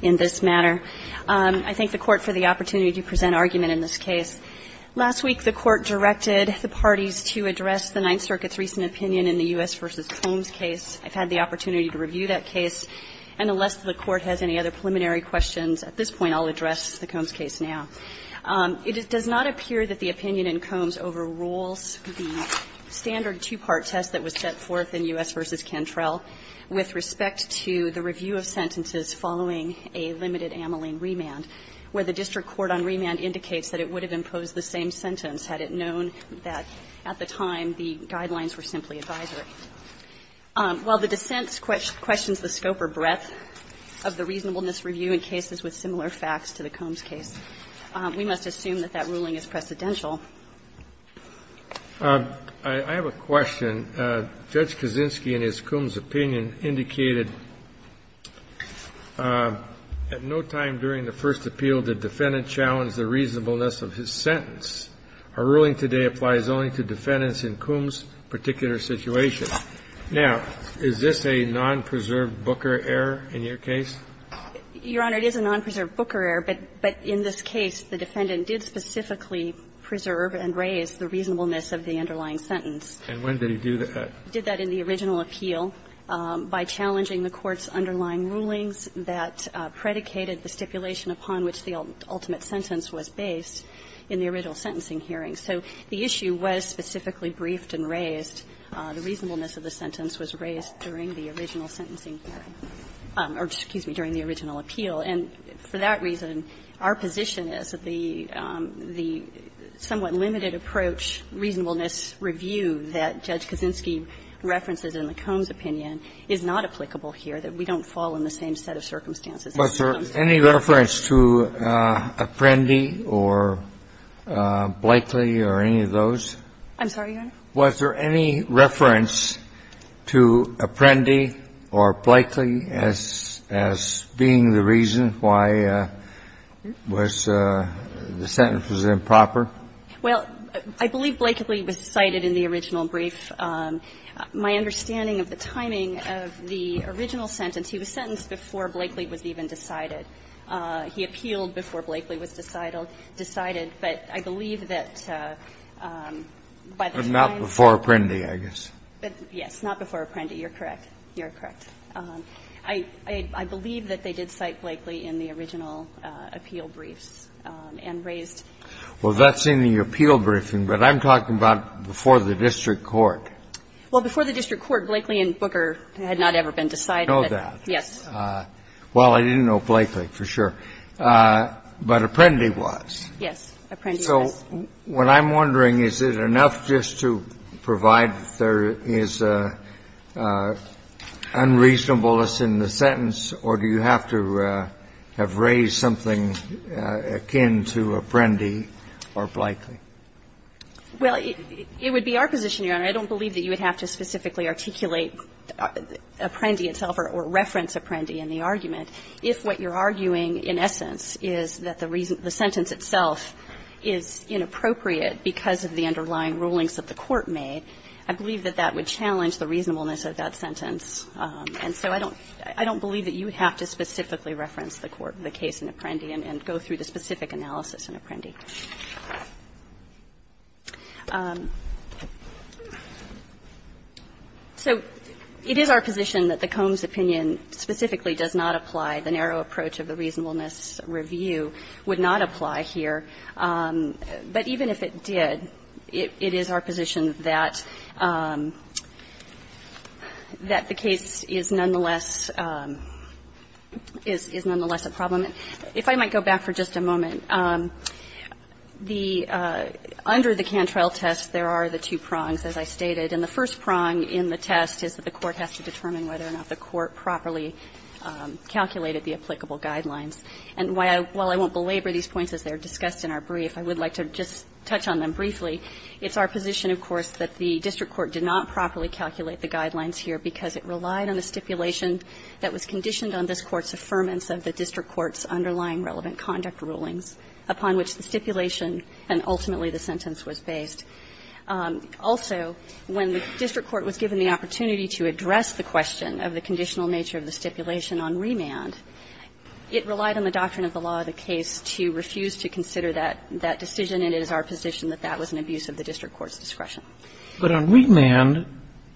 in this matter. I thank the Court for the opportunity to present argument in this case. Last week, the Court directed the parties to address the Ninth Circuit's recent opinion in the U.S. v. Combs case. I've had the opportunity to review that case. And unless the Court has any other preliminary questions at this point, I'll address the Combs case now. It does not appear that the opinion in Combs overrules the standard two-part test that was set forth in U.S. v. Cantrell with respect to the review of sentences following a limited ameline remand, where the district court on remand indicates that it would have imposed the same sentence had it known that at the time the guidelines were simply advisory. While the dissent questions the scope or breadth of the reasonableness review in cases with similar facts to the I have a question. Judge Kaczynski, in his Combs opinion, indicated at no time during the first appeal did the defendant challenge the reasonableness of his sentence. Our ruling today applies only to defendants in Combs' particular situation. Now, is this a non-preserved Booker error in your case? Your Honor, it is a non-preserved Booker error, but in this case, the defendant did specifically preserve and raise the reasonableness of the underlying sentence. And when did he do that? He did that in the original appeal by challenging the Court's underlying rulings that predicated the stipulation upon which the ultimate sentence was based in the original sentencing hearing. So the issue was specifically briefed and raised. The reasonableness of the sentence was raised during the original sentencing hearing or, excuse me, during the original appeal. And for that reason, our position is that the somewhat limited approach reasonableness review that Judge Kaczynski references in the Combs opinion is not applicable here, that we don't fall in the same set of circumstances. Was there any reference to Apprendi or Blakely or any of those? I'm sorry, Your Honor? Was there any reference to Apprendi or Blakely as being the reason why was the sentence improper? Well, I believe Blakely was cited in the original brief. My understanding of the timing of the original sentence, he was sentenced before Blakely was even decided. He appealed before Blakely was decided, but I believe that by the time he was decided he was in the district court. And I believe that Blakely was cited before Apprendi, I guess. Yes, not before Apprendi. You're correct. You're correct. I believe that they did cite Blakely in the original appeal briefs and raised. Well, that's in the appeal briefing, but I'm talking about before the district court. Well, before the district court, Blakely and Booker had not ever been decided. I know that. Yes. Well, I didn't know Blakely for sure, but Apprendi was. Yes. Apprendi was. So what I'm wondering, is it enough just to provide that there is unreasonableness in the sentence, or do you have to have raised something akin to Apprendi or Blakely? Well, it would be our position, Your Honor. I don't believe that you would have to specifically articulate Apprendi itself or reference Apprendi in the argument if what you're arguing, in essence, is that the reason the sentence itself is inappropriate because of the underlying rulings that the court made. I believe that that would challenge the reasonableness of that sentence. And so I don't believe that you would have to specifically reference the court, the case in Apprendi, and go through the specific analysis in Apprendi. So it is our position that the Combs opinion specifically does not apply. The narrow approach of the reasonableness review would not apply here. But even if it did, it is our position that the case is nonetheless a problem. If I might go back for just a moment, the under the Cantrell test, there are the two prongs, as I stated. And the first prong in the test is that the court has to determine whether or not the court properly calculated the applicable guidelines. And while I won't belabor these points as they are discussed in our brief, I would like to just touch on them briefly. It's our position, of course, that the district court did not properly calculate the guidelines here because it relied on the stipulation that was conditioned on this Court's affirmance of the district court's underlying relevant conduct rulings, upon which the stipulation and ultimately the sentence was based. Also, when the district court was given the opportunity to address the question of the conditional nature of the stipulation on remand, it relied on the doctrine of the law of the case to refuse to consider that decision, and it is our position that that was an abuse of the district court's discretion. But on remand,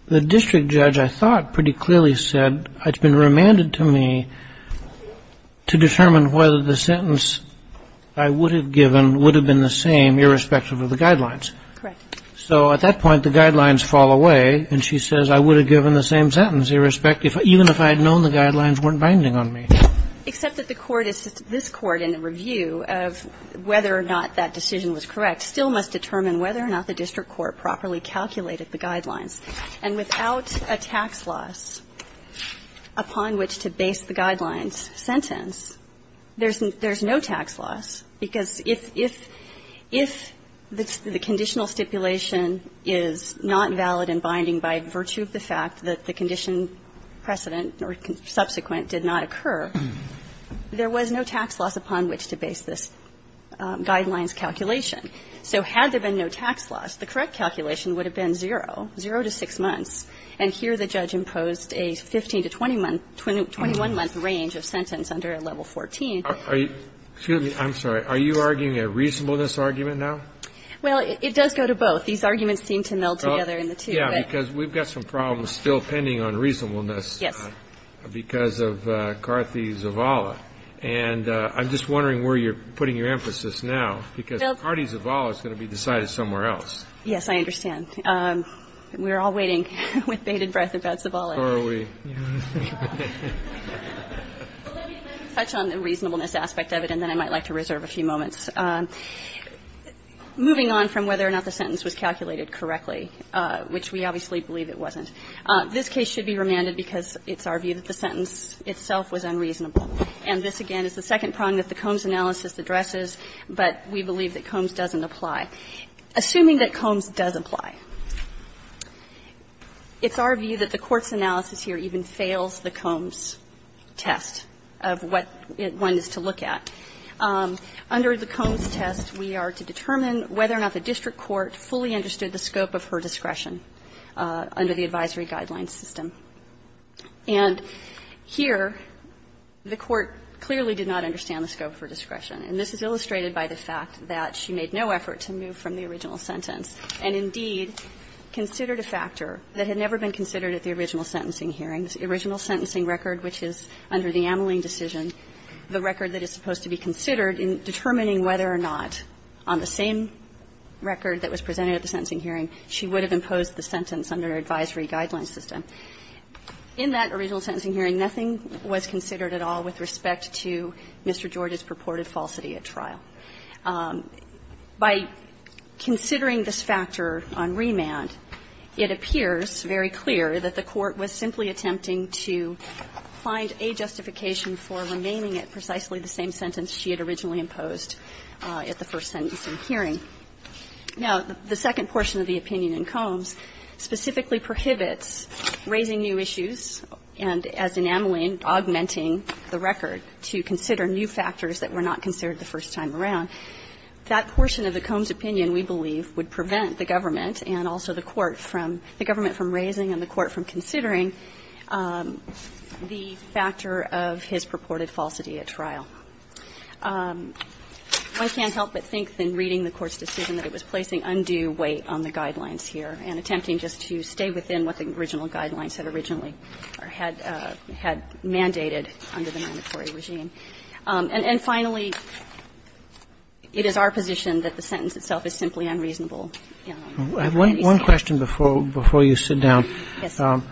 the district judge, I thought, pretty clearly said, it's been remanded to me to determine whether the sentence I would have given would have been the same, irrespective of the guidelines. Correct. So at that point, the guidelines fall away, and she says I would have given the same sentence, irrespective of the guidelines, even if I had known the guidelines weren't binding on me. Except that the court is this Court in a review of whether or not that decision was correct still must determine whether or not the district court properly calculated the guidelines. And without a tax loss upon which to base the guidelines sentence, there's no tax loss, because if the conditional stipulation is not valid and binding by virtue of the fact that the condition precedent or subsequent did not occur, there was no tax loss upon which to base this guidelines calculation. So had there been no tax loss, the correct calculation would have been zero, zero to six months. And here the judge imposed a 15-to-21-month range of sentence under Level 14. Are you arguing a reasonableness argument now? Well, it does go to both. These arguments seem to meld together in the two. Yeah, because we've got some problems still pending on reasonableness. Yes. Because of Karthi Zavala. And I'm just wondering where you're putting your emphasis now, because Karthi Zavala is going to be decided somewhere else. Yes, I understand. We're all waiting with bated breath about Zavala. Or are we? Let me touch on the reasonableness aspect of it, and then I might like to reserve a few moments. Moving on from whether or not the sentence was calculated correctly, which we obviously believe it wasn't, this case should be remanded because it's our view that the sentence itself was unreasonable. And this, again, is the second prong that the Combs analysis addresses, but we believe that Combs doesn't apply. Assuming that Combs does apply, it's our view that the Court's analysis here even fails the Combs test of what one is to look at. Under the Combs test, we are to determine whether or not the district court fully understood the scope of her discretion under the advisory guidelines system. And here, the Court clearly did not understand the scope of her discretion. And this is illustrated by the fact that she made no effort to move from the original sentence and, indeed, considered a factor that had never been considered at the original sentencing hearing, the original sentencing record, which is under the Ameling decision, the record that is supposed to be considered in determining whether or not, on the same record that was presented at the sentencing hearing, she would have imposed the sentence under the advisory guidelines system. In that original sentencing hearing, nothing was considered at all with respect to Mr. George's purported falsity at trial. By considering this factor on remand, it appears very clear that the Court was simply attempting to find a justification for remaining at precisely the same sentence she had originally imposed at the first sentencing hearing. Now, the second portion of the opinion in Combs specifically prohibits raising new issues and, as in Ameling, augmenting the record to consider new factors that were not considered the first time around. That portion of the Combs' opinion, we believe, would prevent the government and also the Court from raising and the Court from considering the factor of his purported falsity at trial. I can't help but think, in reading the Court's decision, that it was placing undue weight on the guidelines here and attempting just to stay within what the original guidelines had originally or had mandated under the mandatory regime. And finally, it is our position that the sentence itself is simply unreasonable. One question before you sit down. Yes, sir.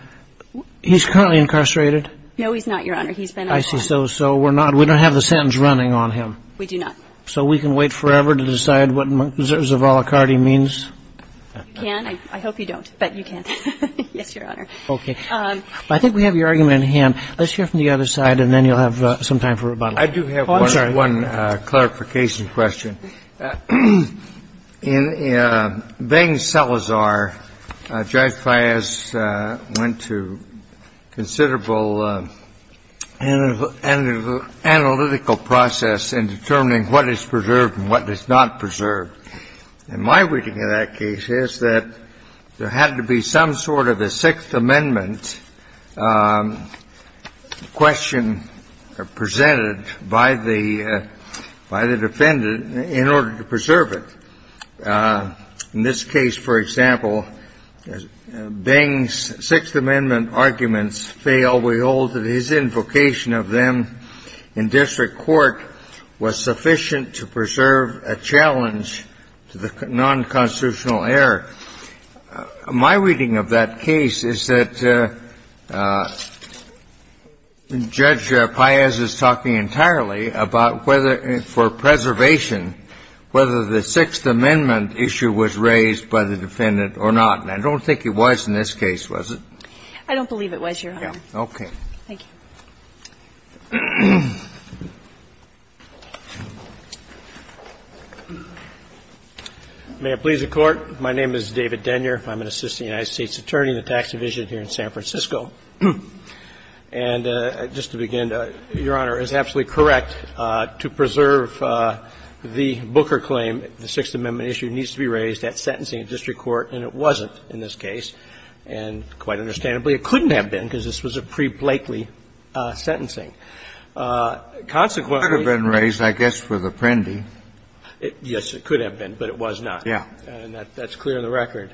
He's currently incarcerated? No, he's not, Your Honor. He's been incarcerated. I see. So we're not we don't have the sentence running on him. We do not. So we can wait forever to decide what Zavallacardi means? You can. I hope you don't, but you can. Yes, Your Honor. Okay. I think we have your argument at hand. Let's hear from the other side, and then you'll have some time for rebuttal. Oh, I'm sorry. I do have one clarification question. In Baines-Salazar, Judge Fias went to considerable analytical process in determining what is preserved and what is not preserved. And my reading of that case is that there had to be some sort of a Sixth Amendment question presented by the defendant in order to preserve it. In this case, for example, Baines' Sixth Amendment arguments fail. We hold that his invocation of them in district court was sufficient to preserve a challenge to the nonconstitutional error. My reading of that case is that Judge Fias is talking entirely about whether for preservation, whether the Sixth Amendment issue was raised by the defendant or not. And I don't think it was in this case, was it? I don't believe it was, Your Honor. Okay. Thank you. May it please the Court. My name is David Denyer. I'm an assistant United States attorney in the tax division here in San Francisco. And just to begin, Your Honor, it is absolutely correct to preserve the Booker claim that the Sixth Amendment issue needs to be raised at sentencing in district court, and it wasn't in this case. And quite understandably, it couldn't have been, because this was a pre-Blakely sentencing. Consequently — It could have been raised, I guess, with Apprendi. Yes, it could have been, but it was not. Yeah. And that's clear in the record.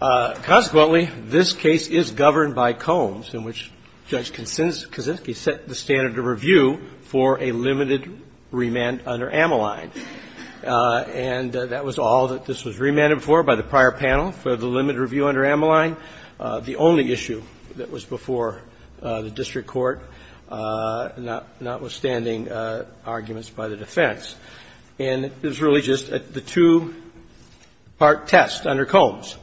Consequently, this case is governed by Combs, in which Judge Kaczynski set the standard of review for a limited remand under Ammaline. And that was all that this was remanded for by the prior panel, for the limited review under Ammaline, the only issue that was before the district court, notwithstanding arguments by the defense. And it was really just the two-part test under Combs.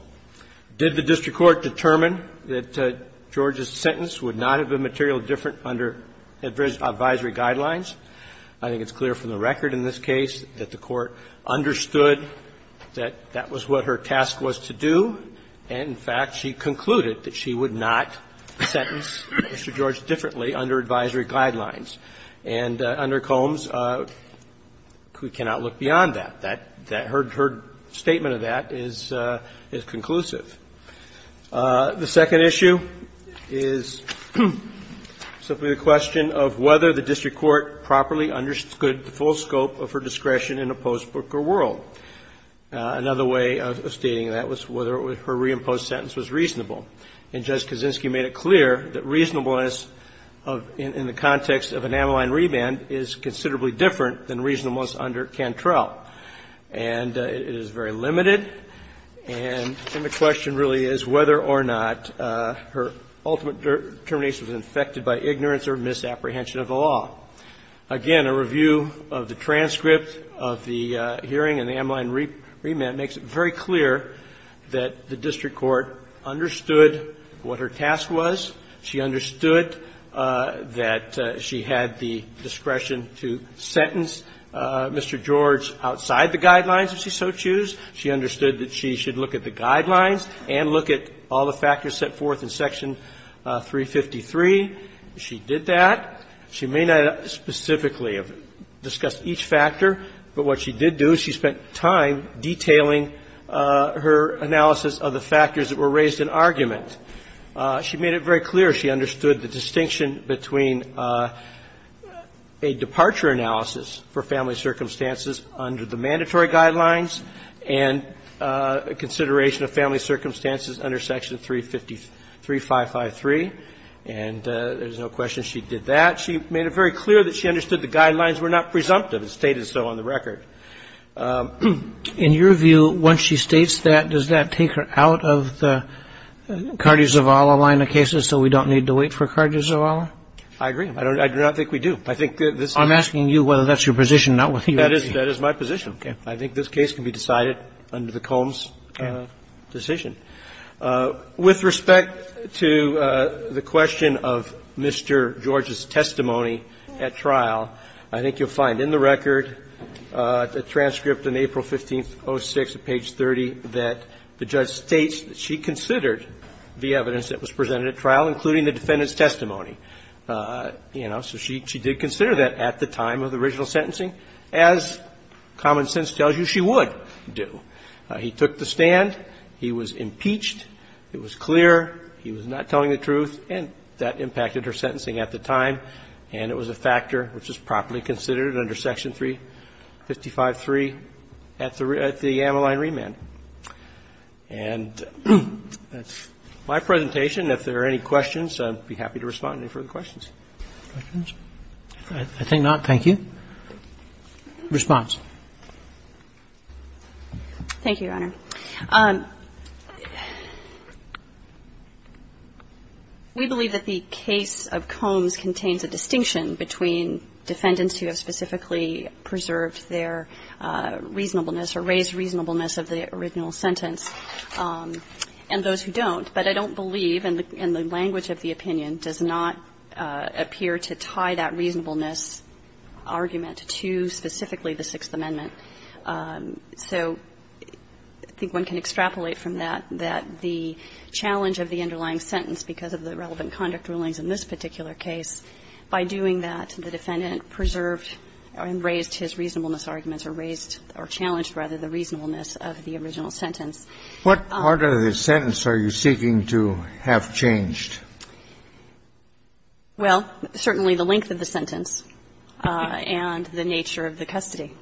Did the district court determine that Georgia's sentence would not have been material different under advisory guidelines? I think it's clear from the record in this case that the Court understood that that was what her task was to do. And, in fact, she concluded that she would not sentence Mr. George differently under advisory guidelines. And under Combs, we cannot look beyond that. That — her statement of that is conclusive. The second issue is simply the question of whether the district court properly understood the full scope of her discretion in a post-Booker world. Another way of stating that was whether her reimposed sentence was reasonable. And Judge Kaczynski made it clear that reasonableness of — in the context of an Ammaline remand is considerably different than reasonableness under Cantrell. And it is very limited. And the question really is whether or not her ultimate determination was infected by ignorance or misapprehension of the law. Again, a review of the transcript of the hearing in the Ammaline remand makes it very clear that the district court understood what her task was. She understood that she had the discretion to sentence Mr. George outside the guidelines if she so choose. She understood that she should look at the guidelines and look at all the factors set forth in Section 353. She did that. She may not specifically have discussed each factor, but what she did do is she spent time detailing her analysis of the factors that were raised in argument. She made it very clear she understood the distinction between a departure analysis for family circumstances under the mandatory guidelines and a consideration of family circumstances under Section 353. And there's no question she did that. She made it very clear that she understood the guidelines were not presumptive. It's stated so on the record. In your view, once she states that, does that take her out of the Cardi-Zavala line of cases so we don't need to wait for Cardi-Zavala? I agree. I do not think we do. I'm asking you whether that's your position, not whether you agree. That is my position. I think this case can be decided under the Combs decision. With respect to the question of Mr. George's testimony at trial, I think you'll find in the record the transcript in April 15, 06, at page 30, that the judge states that she considered the evidence that was presented at trial, including the defendant's testimony. You know, so she did consider that at the time of the original sentencing, as common sense tells you she would do. He took the stand. He was impeached. It was clear. He was not telling the truth. And that impacted her sentencing at the time. And it was a factor which was properly considered under Section 355.3 at the Ameline remand. And that's my presentation. If there are any questions, I'd be happy to respond to any further questions. Questions? I think not. Thank you. Response? Thank you, Your Honor. We believe that the case of Combs contains a distinction between defendants who have specifically preserved their reasonableness or raised reasonableness of the original sentence and those who don't. But I don't believe, and the language of the opinion does not appear to tie that reasonableness argument to specifically the Sixth Amendment. So I think one can extrapolate from that that the challenge of the underlying sentence, because of the relevant conduct rulings in this particular case, by doing that, the defendant preserved and raised his reasonableness arguments or raised or challenged, rather, the reasonableness of the original sentence. What part of the sentence are you seeking to have changed? Well, certainly the length of the sentence and the nature of the custody.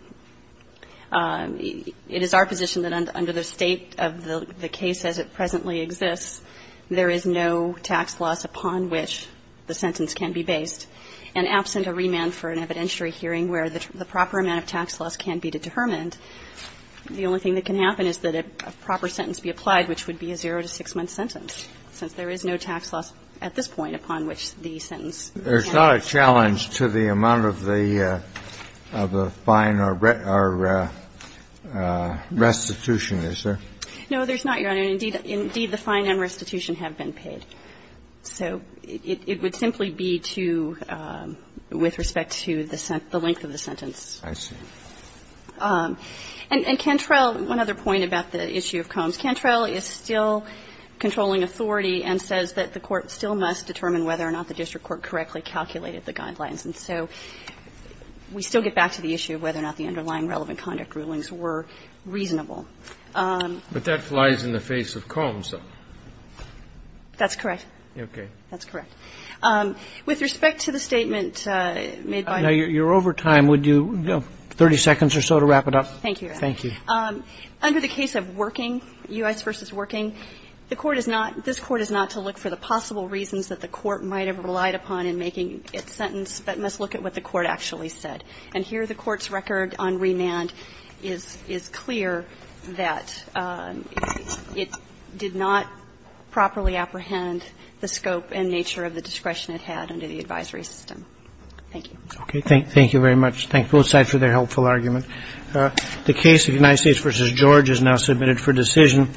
It is our position that under the state of the case as it presently exists, there is no tax loss upon which the sentence can be based. And absent a remand for an evidentiary hearing where the proper amount of tax loss can be determined, the only thing that can happen is that a proper sentence be applied, which would be a zero to six-month sentence, since there is no tax loss at this point upon which the sentence can be applied. So there's not a challenge to the amount of the fine or restitution, is there? No, there's not, Your Honor. Indeed, the fine and restitution have been paid. So it would simply be to, with respect to the length of the sentence. I see. And Cantrell, one other point about the issue of Combs. Cantrell is still controlling authority and says that the Court still must determine whether or not the district court correctly calculated the guidelines. And so we still get back to the issue of whether or not the underlying relevant conduct rulings were reasonable. But that flies in the face of Combs, though. That's correct. Okay. That's correct. With respect to the statement made by the Court. Now, you're over time. Would you have 30 seconds or so to wrap it up? Thank you, Your Honor. Thank you. Under the case of Working, U.S. v. Working, the Court is not, this Court is not to look for the possible reasons that the Court might have relied upon in making its sentence, but must look at what the Court actually said. And here the Court's record on remand is clear that it did not properly apprehend the scope and nature of the discretion it had under the advisory system. Thank you. Okay. Thank you very much. Thank both sides for their helpful argument. The case of United States v. George is now submitted for decision.